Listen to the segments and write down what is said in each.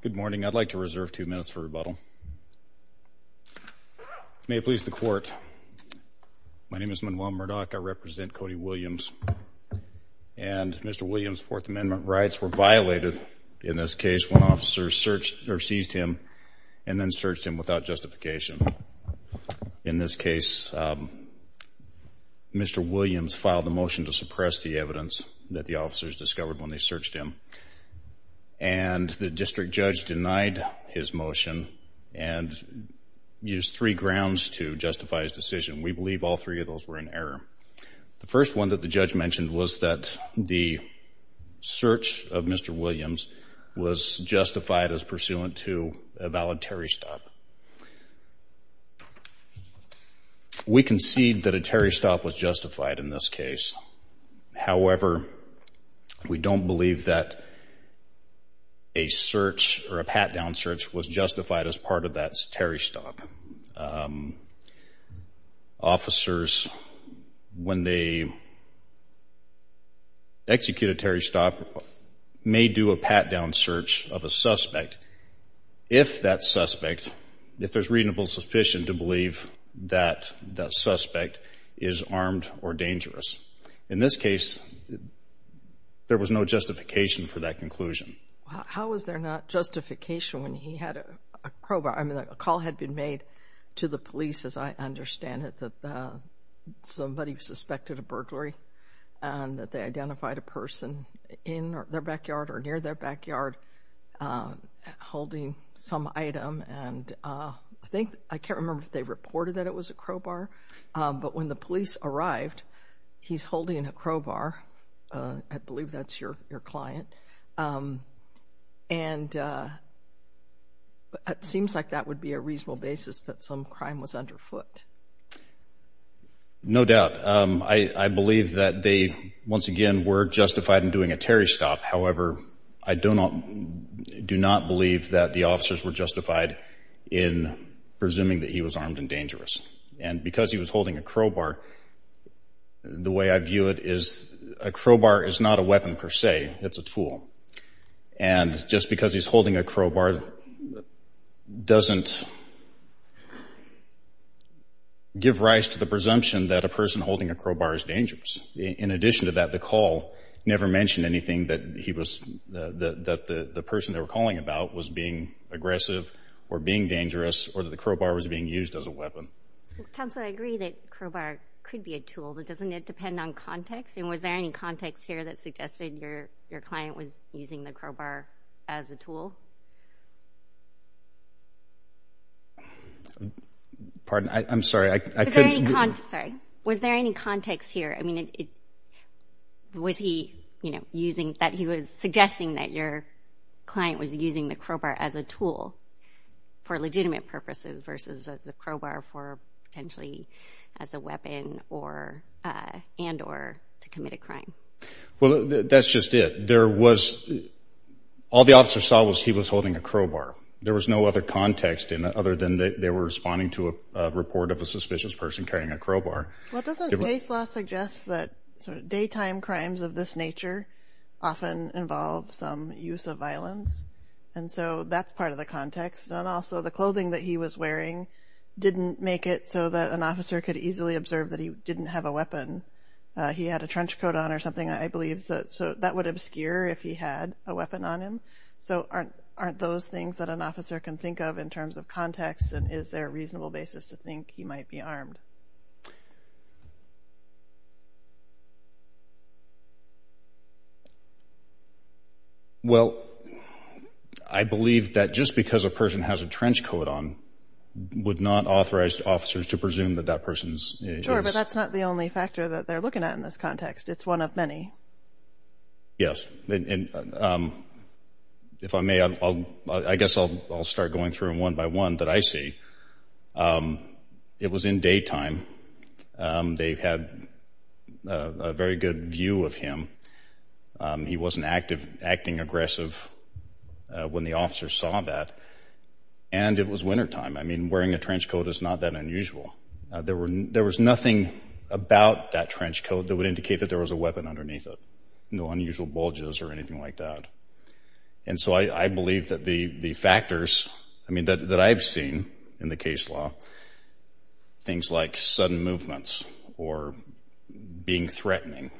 Good morning. I'd like to reserve two minutes for rebuttal. May it please the court, my name is Manuel Murdock. I represent Cody Williams and Mr. Williams' Fourth Amendment rights were violated in this case when officers searched or seized him and then searched him without justification. In this case, Mr. Williams filed a motion to suppress the evidence that the officers discovered when they searched him. And the district judge denied his motion and used three grounds to justify his decision. We believe all three of those were in error. The first one that the judge mentioned was that the search of Mr. Williams was justified as pursuant to a valid Terry stop. We concede that a Terry stop was justified in this case. However, we don't believe that a search or a pat-down search was justified as part of that Terry stop. Officers, when they execute a Terry stop, may do a pat-down search of a suspect if that suspect, if there's reasonable suspicion to believe that that suspect is In this case, there was no justification for that conclusion. How was there not justification when he had a crowbar? I mean, a call had been made to the police, as I understand it, that somebody suspected a burglary and that they identified a person in their backyard or near their backyard holding some item. And I think, I can't remember if they reported that it was a crowbar. But when the police arrived, he's holding a crowbar. I believe that's your client. And it seems like that would be a reasonable basis that some crime was underfoot. No doubt. I believe that they, once again, were justified in doing a Terry stop. However, I do not believe that the officers were justified in presuming that he was armed and dangerous. And because he was holding a crowbar, the way I view it is a crowbar is not a weapon per se. It's a tool. And just because he's holding a crowbar doesn't give rise to the presumption that a person holding a crowbar is dangerous. In addition to that, the call never mentioned anything that he was, that the person they were calling about was being aggressive or being dangerous or that the crowbar was being used as a weapon. Counselor, I agree that crowbar could be a tool, but doesn't it depend on context? And was there any context here that suggested your client was using the crowbar as a tool? Pardon? I'm sorry. Was there any context here? I mean, was he, you know, using, that he was the crowbar as a tool for legitimate purposes versus the crowbar for potentially as a weapon or, and, or to commit a crime? Well, that's just it. There was, all the officer saw was he was holding a crowbar. There was no other context in it other than they were responding to a report of a suspicious person carrying a crowbar. Well, doesn't base law suggest that daytime crimes of this nature often involve some use of violence? And so that's part of the context. And also the clothing that he was wearing didn't make it so that an officer could easily observe that he didn't have a weapon. He had a trench coat on or something. I believe that, so that would obscure if he had a weapon on him. So aren't, aren't those things that an officer can think of in terms of Well, I believe that just because a person has a trench coat on would not authorize officers to presume that that person's. Sure, but that's not the only factor that they're looking at in this context. It's one of many. Yes. And if I may, I'll, I guess I'll, I'll start going through one by one that I see. It was in daytime. They've had a very good view of him. He wasn't active, acting aggressive when the officer saw that. And it was wintertime. I mean, wearing a trench coat is not that unusual. There were, there was nothing about that trench coat that would indicate that there was a weapon underneath it. No unusual bulges or anything like that. And so I believe that the, the in the case law, things like sudden movements or being threatening,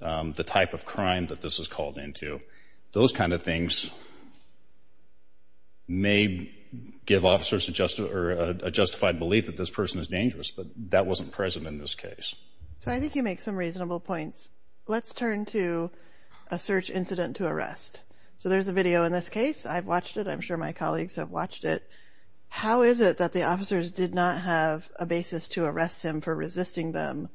the type of crime that this is called into, those kinds of things may give officers a justified belief that this person is dangerous, but that wasn't present in this case. So I think you make some reasonable points. Let's turn to a search incident to arrest. So there's a video in this case. I've watched it. I'm sure my How is it that the officers did not have a basis to arrest him for resisting them?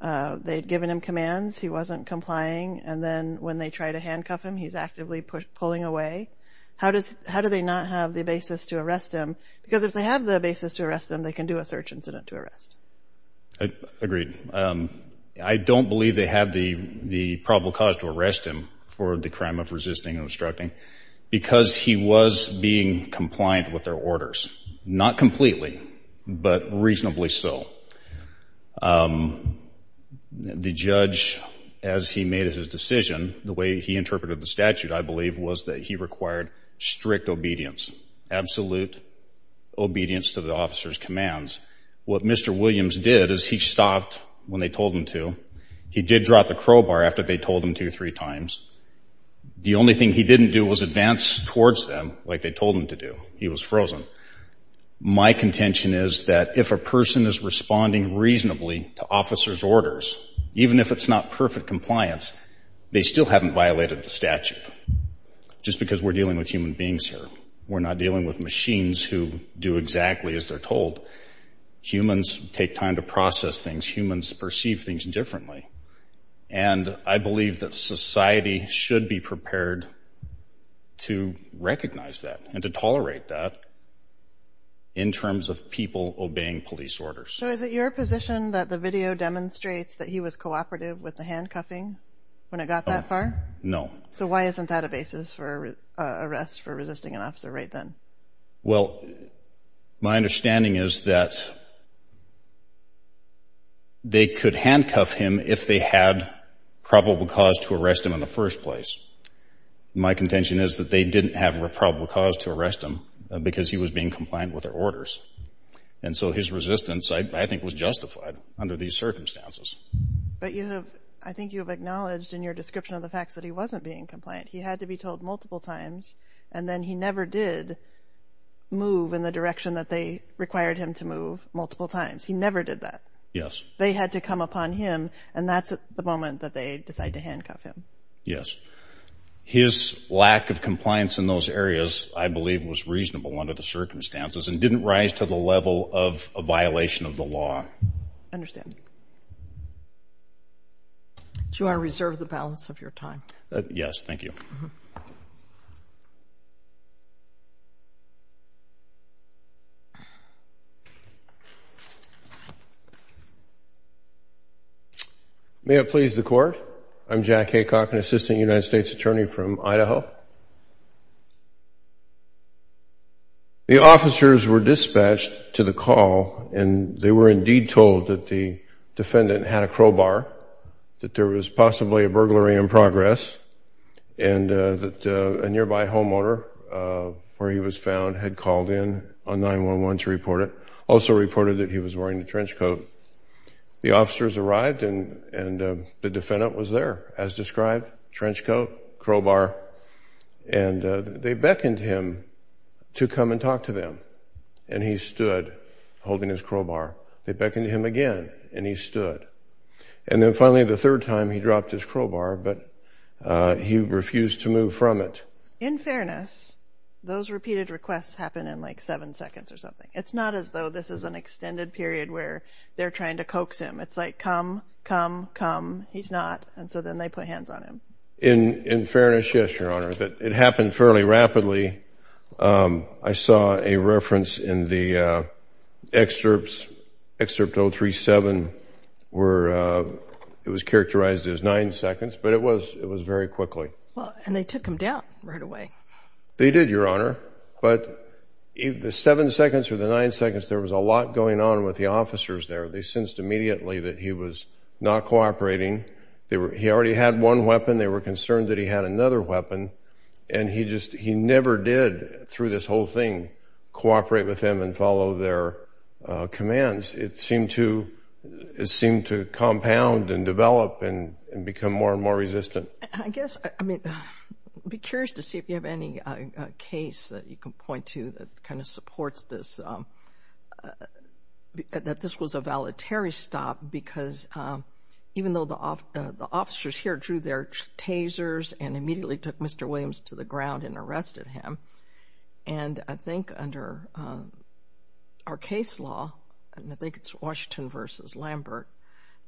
They'd given him commands. He wasn't complying. And then when they try to handcuff him, he's actively pulling away. How does, how do they not have the basis to arrest him? Because if they have the basis to arrest them, they can do a search incident to arrest. I agree. I don't believe they have the, the probable cause to arrest him for the crime of not completely, but reasonably so. The judge, as he made his decision, the way he interpreted the statute, I believe was that he required strict obedience, absolute obedience to the officer's commands. What Mr. Williams did is he stopped when they told him to. He did drop the crowbar after they told him to three times. The only thing he didn't do was advance towards them like they told him to do. He was frozen. My contention is that if a person is responding reasonably to officer's orders, even if it's not perfect compliance, they still haven't violated the statute. Just because we're dealing with human beings here. We're not dealing with machines who do exactly as they're told. Humans take time to process things. Humans perceive things differently. And I believe that we can tolerate that in terms of people obeying police orders. So is it your position that the video demonstrates that he was cooperative with the handcuffing when it got that far? No. So why isn't that a basis for arrest for resisting an officer right then? Well, my understanding is that they could handcuff him if they had probable cause to arrest him in the first place. My contention is that they didn't have a probable cause to arrest him because he was being compliant with their orders. And so his resistance, I think, was justified under these circumstances. But you have, I think you have acknowledged in your description of the facts that he wasn't being compliant. He had to be told multiple times. And then he never did move in the direction that they required him to move multiple times. He never did that. Yes. They had to come upon him. And that's the moment that they decide to handcuff him. Yes. His lack of compliance in those areas, I believe, was reasonable under the circumstances and didn't rise to the level of a violation of the law. Understand. Do you want to reserve the balance of your time? Yes. Thank you. May it please the Court. I'm Jack Haycock, an assistant United States attorney from Idaho. The officers were dispatched to the call and they were indeed told that the defendant had a crowbar, that there was possibly a nearby homeowner where he was found had called in on 9-1-1 to report it, also reported that he was wearing a trench coat. The officers arrived and the defendant was there, as described, trench coat, crowbar. And they beckoned him to come and talk to them. And he stood holding his crowbar. They beckoned him again and he stood. And then In fairness, those repeated requests happen in like seven seconds or something. It's not as though this is an extended period where they're trying to coax him. It's like, come, come, come. He's not. And so then they put hands on him. In fairness, yes, Your Honor. It happened fairly rapidly. I saw a reference in the excerpts, excerpt 037, where it was characterized as nine seconds, but it was very quickly. Well, and they took him down right away. They did, Your Honor. But the seven seconds or the nine seconds, there was a lot going on with the officers there. They sensed immediately that he was not cooperating. They were, he already had one weapon. They were concerned that he had another weapon. And he just, he never did, through this whole thing, cooperate with them and follow their commands. It seemed to, it seemed to compound and develop and become more and more resistant. I guess, I mean, be curious to see if you have any case that you can point to that kind of supports this, that this was a voluntary stop because even though the officers here drew their tasers and immediately took Mr. Williams to the ground and arrested him. And I think under our case law, and I think it's Washington versus Lambert,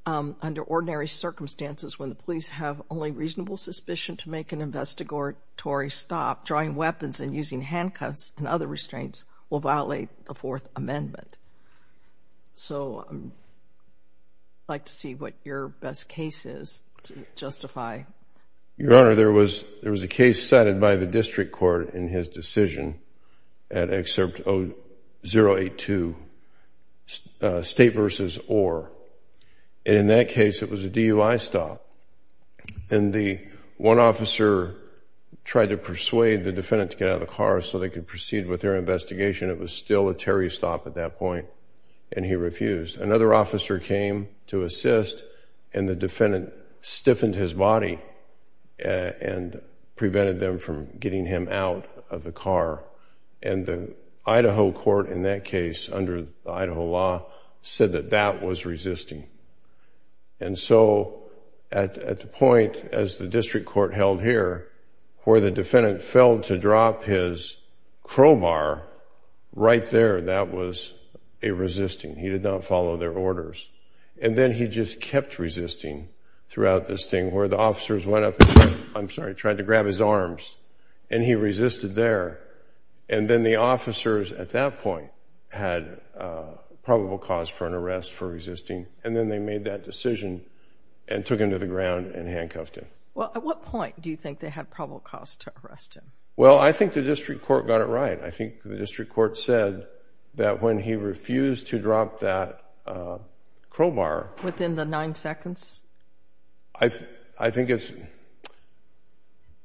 under ordinary circumstances, when the police have only reasonable suspicion to make an investigatory stop, drawing weapons and using handcuffs and other restraints will violate the Fourth Amendment. So I'd like to see what your best case is to justify. Your Honor, there was, there was a case cited by the district court in his decision at excerpt 082, State versus Orr. And in that case, it was a DUI stop. And the one officer tried to persuade the defendant to get out of the car so they could proceed with their investigation. It was still a Terry stop at that point. And he refused. Another officer came to assist and the defendant stiffened his body and prevented them from getting him out of the car. And the Idaho court in that case, under the law, was resisting. And so at the point, as the district court held here, where the defendant failed to drop his crowbar right there, that was a resisting. He did not follow their orders. And then he just kept resisting throughout this thing where the officers went up and, I'm sorry, tried to grab his arms. And he resisted there. And then the officers at that point had probable cause for an arrest for resisting. And then they made that decision and took him to the ground and handcuffed him. Well, at what point do you think they had probable cause to arrest him? Well, I think the district court got it right. I think the district court said that when he refused to drop that crowbar within the nine seconds. I think it's,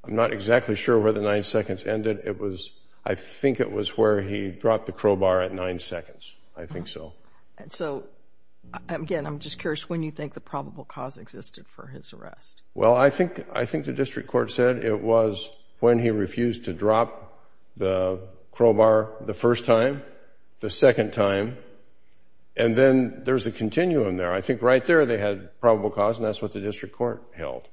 I'm not exactly sure where the nine seconds ended. It was, I think it was where he dropped the crowbar at nine seconds. I think so. And so, again, I'm just curious when you think the probable cause existed for his arrest? Well, I think, I think the district court said it was when he refused to drop the crowbar the first time, the second time. And then there's a probable cause, and that's what the district court held.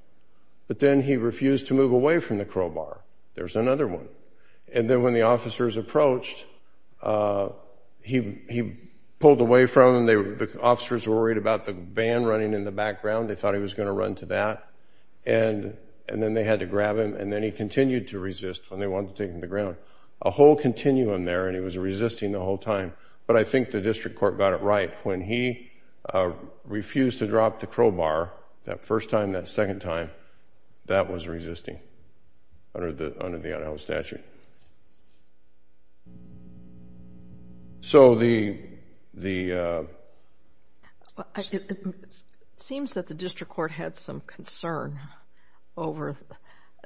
But then he refused to move away from the crowbar. There's another one. And then when the officers approached, he pulled away from them. The officers were worried about the van running in the background. They thought he was going to run to that. And then they had to grab him. And then he continued to resist when they wanted to take him to the ground. A whole continuum there, and he was resisting the whole time. But I think the district court got it right. When he refused to drop the crowbar, that first time, that second time, that was resisting under the Idaho statute. So the, the... It seems that the district court had some concern over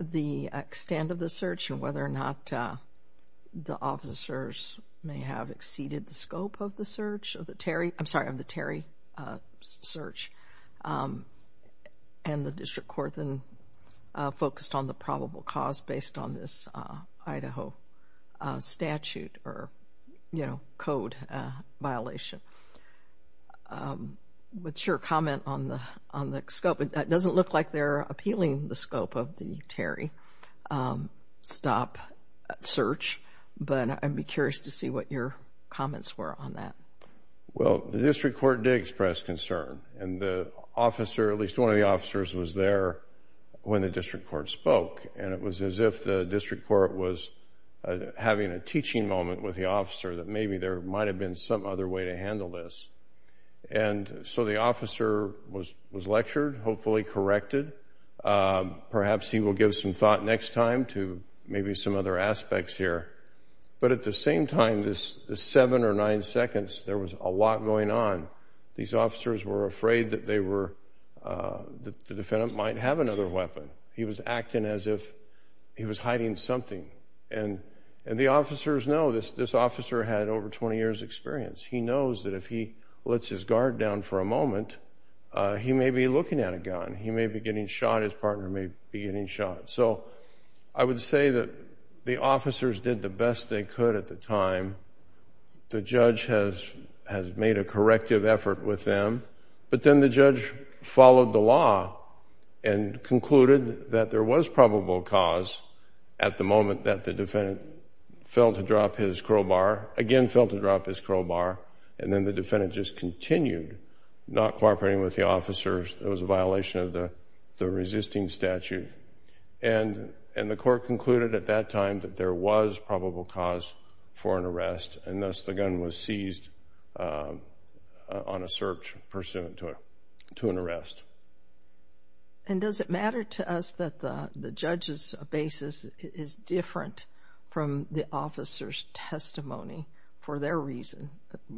the extent of the search and whether or not the officers may have exceeded the scope of the search. Of the Terry, I'm sorry, of the Terry search. And the district court then focused on the probable cause based on this Idaho statute or, you know, code violation. What's your comment on the, on the scope? It doesn't look like they're appealing the scope of the Terry stop search, but I'd be curious to see what your comments were on that. Well, the district court did express concern. And the officer, at least one of the officers, was there when the district court spoke. And it was as if the district court was having a teaching moment with the officer that maybe there might have been some other way to handle this. And so the officer was, was lectured, hopefully corrected. Perhaps he will give some thought next time to maybe some other aspects here. But at the same time, this, this seven or nine seconds, there was a lot going on. These officers were afraid that they were, that the defendant might have another weapon. He was acting as if he was hiding something. And, and the officers know this, this officer had over 20 years experience. He knows that if he lets his guard down for a moment, he may be looking at a gun. He may be getting shot. His partner may be getting shot. So I would say that the officers did the best they could at the time. The judge has, has made a corrective effort with them. But then the judge followed the law and concluded that there was probable cause at the moment that the defendant failed to drop his crowbar, again, failed to drop his crowbar. And then the defendant just continued not cooperating with the officers. It was a violation of the, the resisting statute. And, and the court concluded at that time that there was probable cause for an arrest. And thus the gun was seized on a search pursuant to a, to an arrest. And does it matter to us that the, the judge's basis is different from the officer's testimony for their reason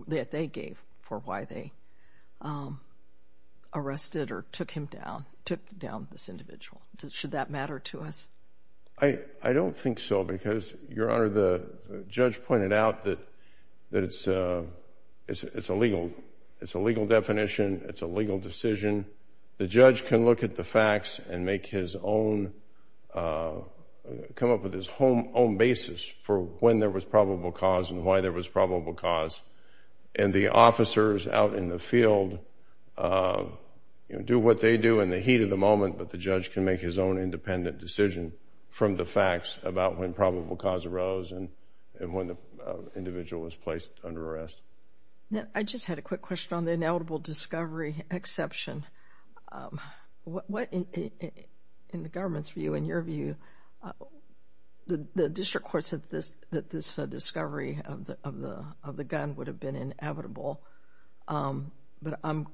that they gave for why they arrested or took him down, took down this individual? Should that matter to us? I, I don't think so because, Your Honor, the judge pointed out that, that it's, it's, it's a legal, it's a legal definition. It's a legal decision. The judge can look at the facts and make his own, come up with his own basis for when there was probable cause and why there was probable cause. And the officers out in the field, you know, do what they do in the heat of the moment, but the judge can make his own independent decision from the facts about when probable cause arose and, and when the individual was placed under arrest. Now, I just had a quick question on the ineligible discovery exception. What, in the government's view, in your view, the, the, the district courts that this, that this discovery of the, of the, of the gun would have been inevitable, but I'm,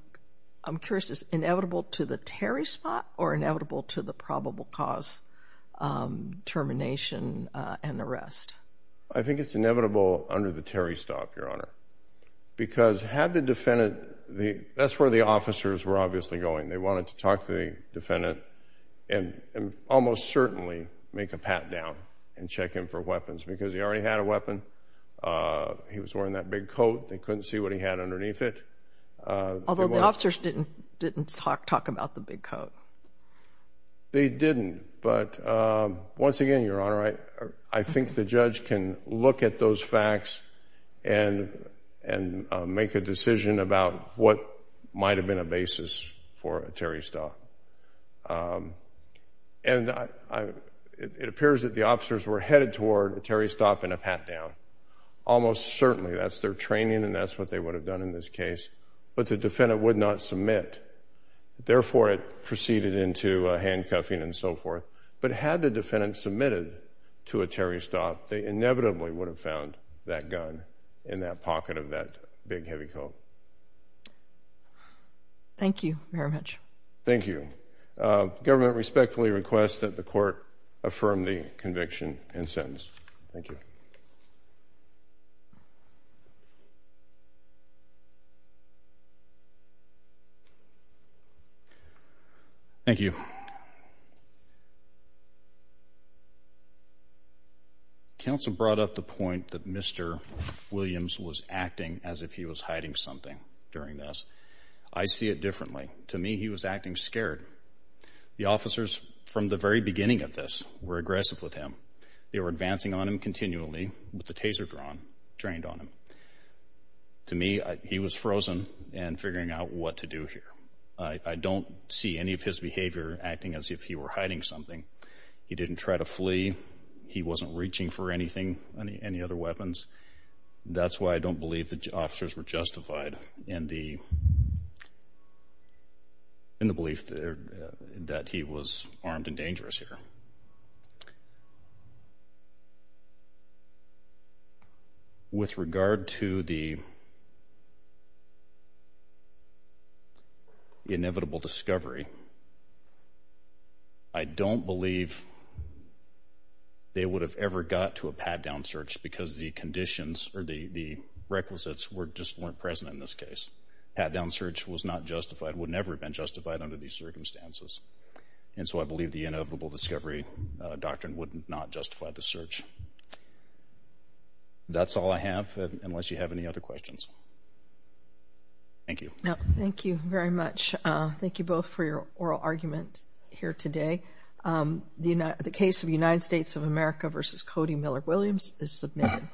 I'm curious, is it inevitable to the Terry spot or inevitable to the probable cause termination and arrest? I think it's inevitable under the Terry stop, Your Honor. Because had the defendant, the, that's where the officers were obviously going. They wanted to talk to the defendant and, and almost certainly make a pat down and check him for weapons because he already had a weapon. He was wearing that big coat. They couldn't see what he had underneath it. Although the officers didn't, didn't talk, talk about the big coat. They didn't. But once again, Your Honor, I, I think the judge can look at those facts. And, and make a decision about what might have been a basis for a Terry stop. And I, I, it, it appears that the officers were headed toward a Terry stop and a pat down. Almost certainly, that's their training and that's what they would have done in this case. But the defendant would not submit. Therefore, it proceeded into a handcuffing and so forth. But had the defendant submitted to a Terry stop, they inevitably would have found that gun in that pocket of that big heavy coat. Thank you very much. Thank you. Government respectfully requests that the court affirm the conviction and sentence. Thank you. Thank you. Counsel brought up the point that Mr. Williams was acting as if he was hiding something during this. I see it differently. To me, he was acting scared. The officers, from the very beginning of this, were aggressive with him. They were advancing on him continually with the taser drawn, trained on him. To me, he was frozen and figuring out what to do here. I don't see any of his behavior acting as if he were hiding something. He didn't try to flee. He wasn't reaching for anything, any other weapons. That's why I don't believe the officers were justified in the belief that he was armed and dangerous here. With regard to the inevitable discovery, I don't believe they would have ever got to a pat-down search because the conditions or the requisites just weren't present in this case. Pat-down search was not justified, would never have been justified under these circumstances. I believe the inevitable discovery doctrine would not justify the search. That's all I have, unless you have any other questions. Thank you. Thank you very much. Thank you both for your oral argument here today. The case of United States of America versus Cody Miller Williams is submitted.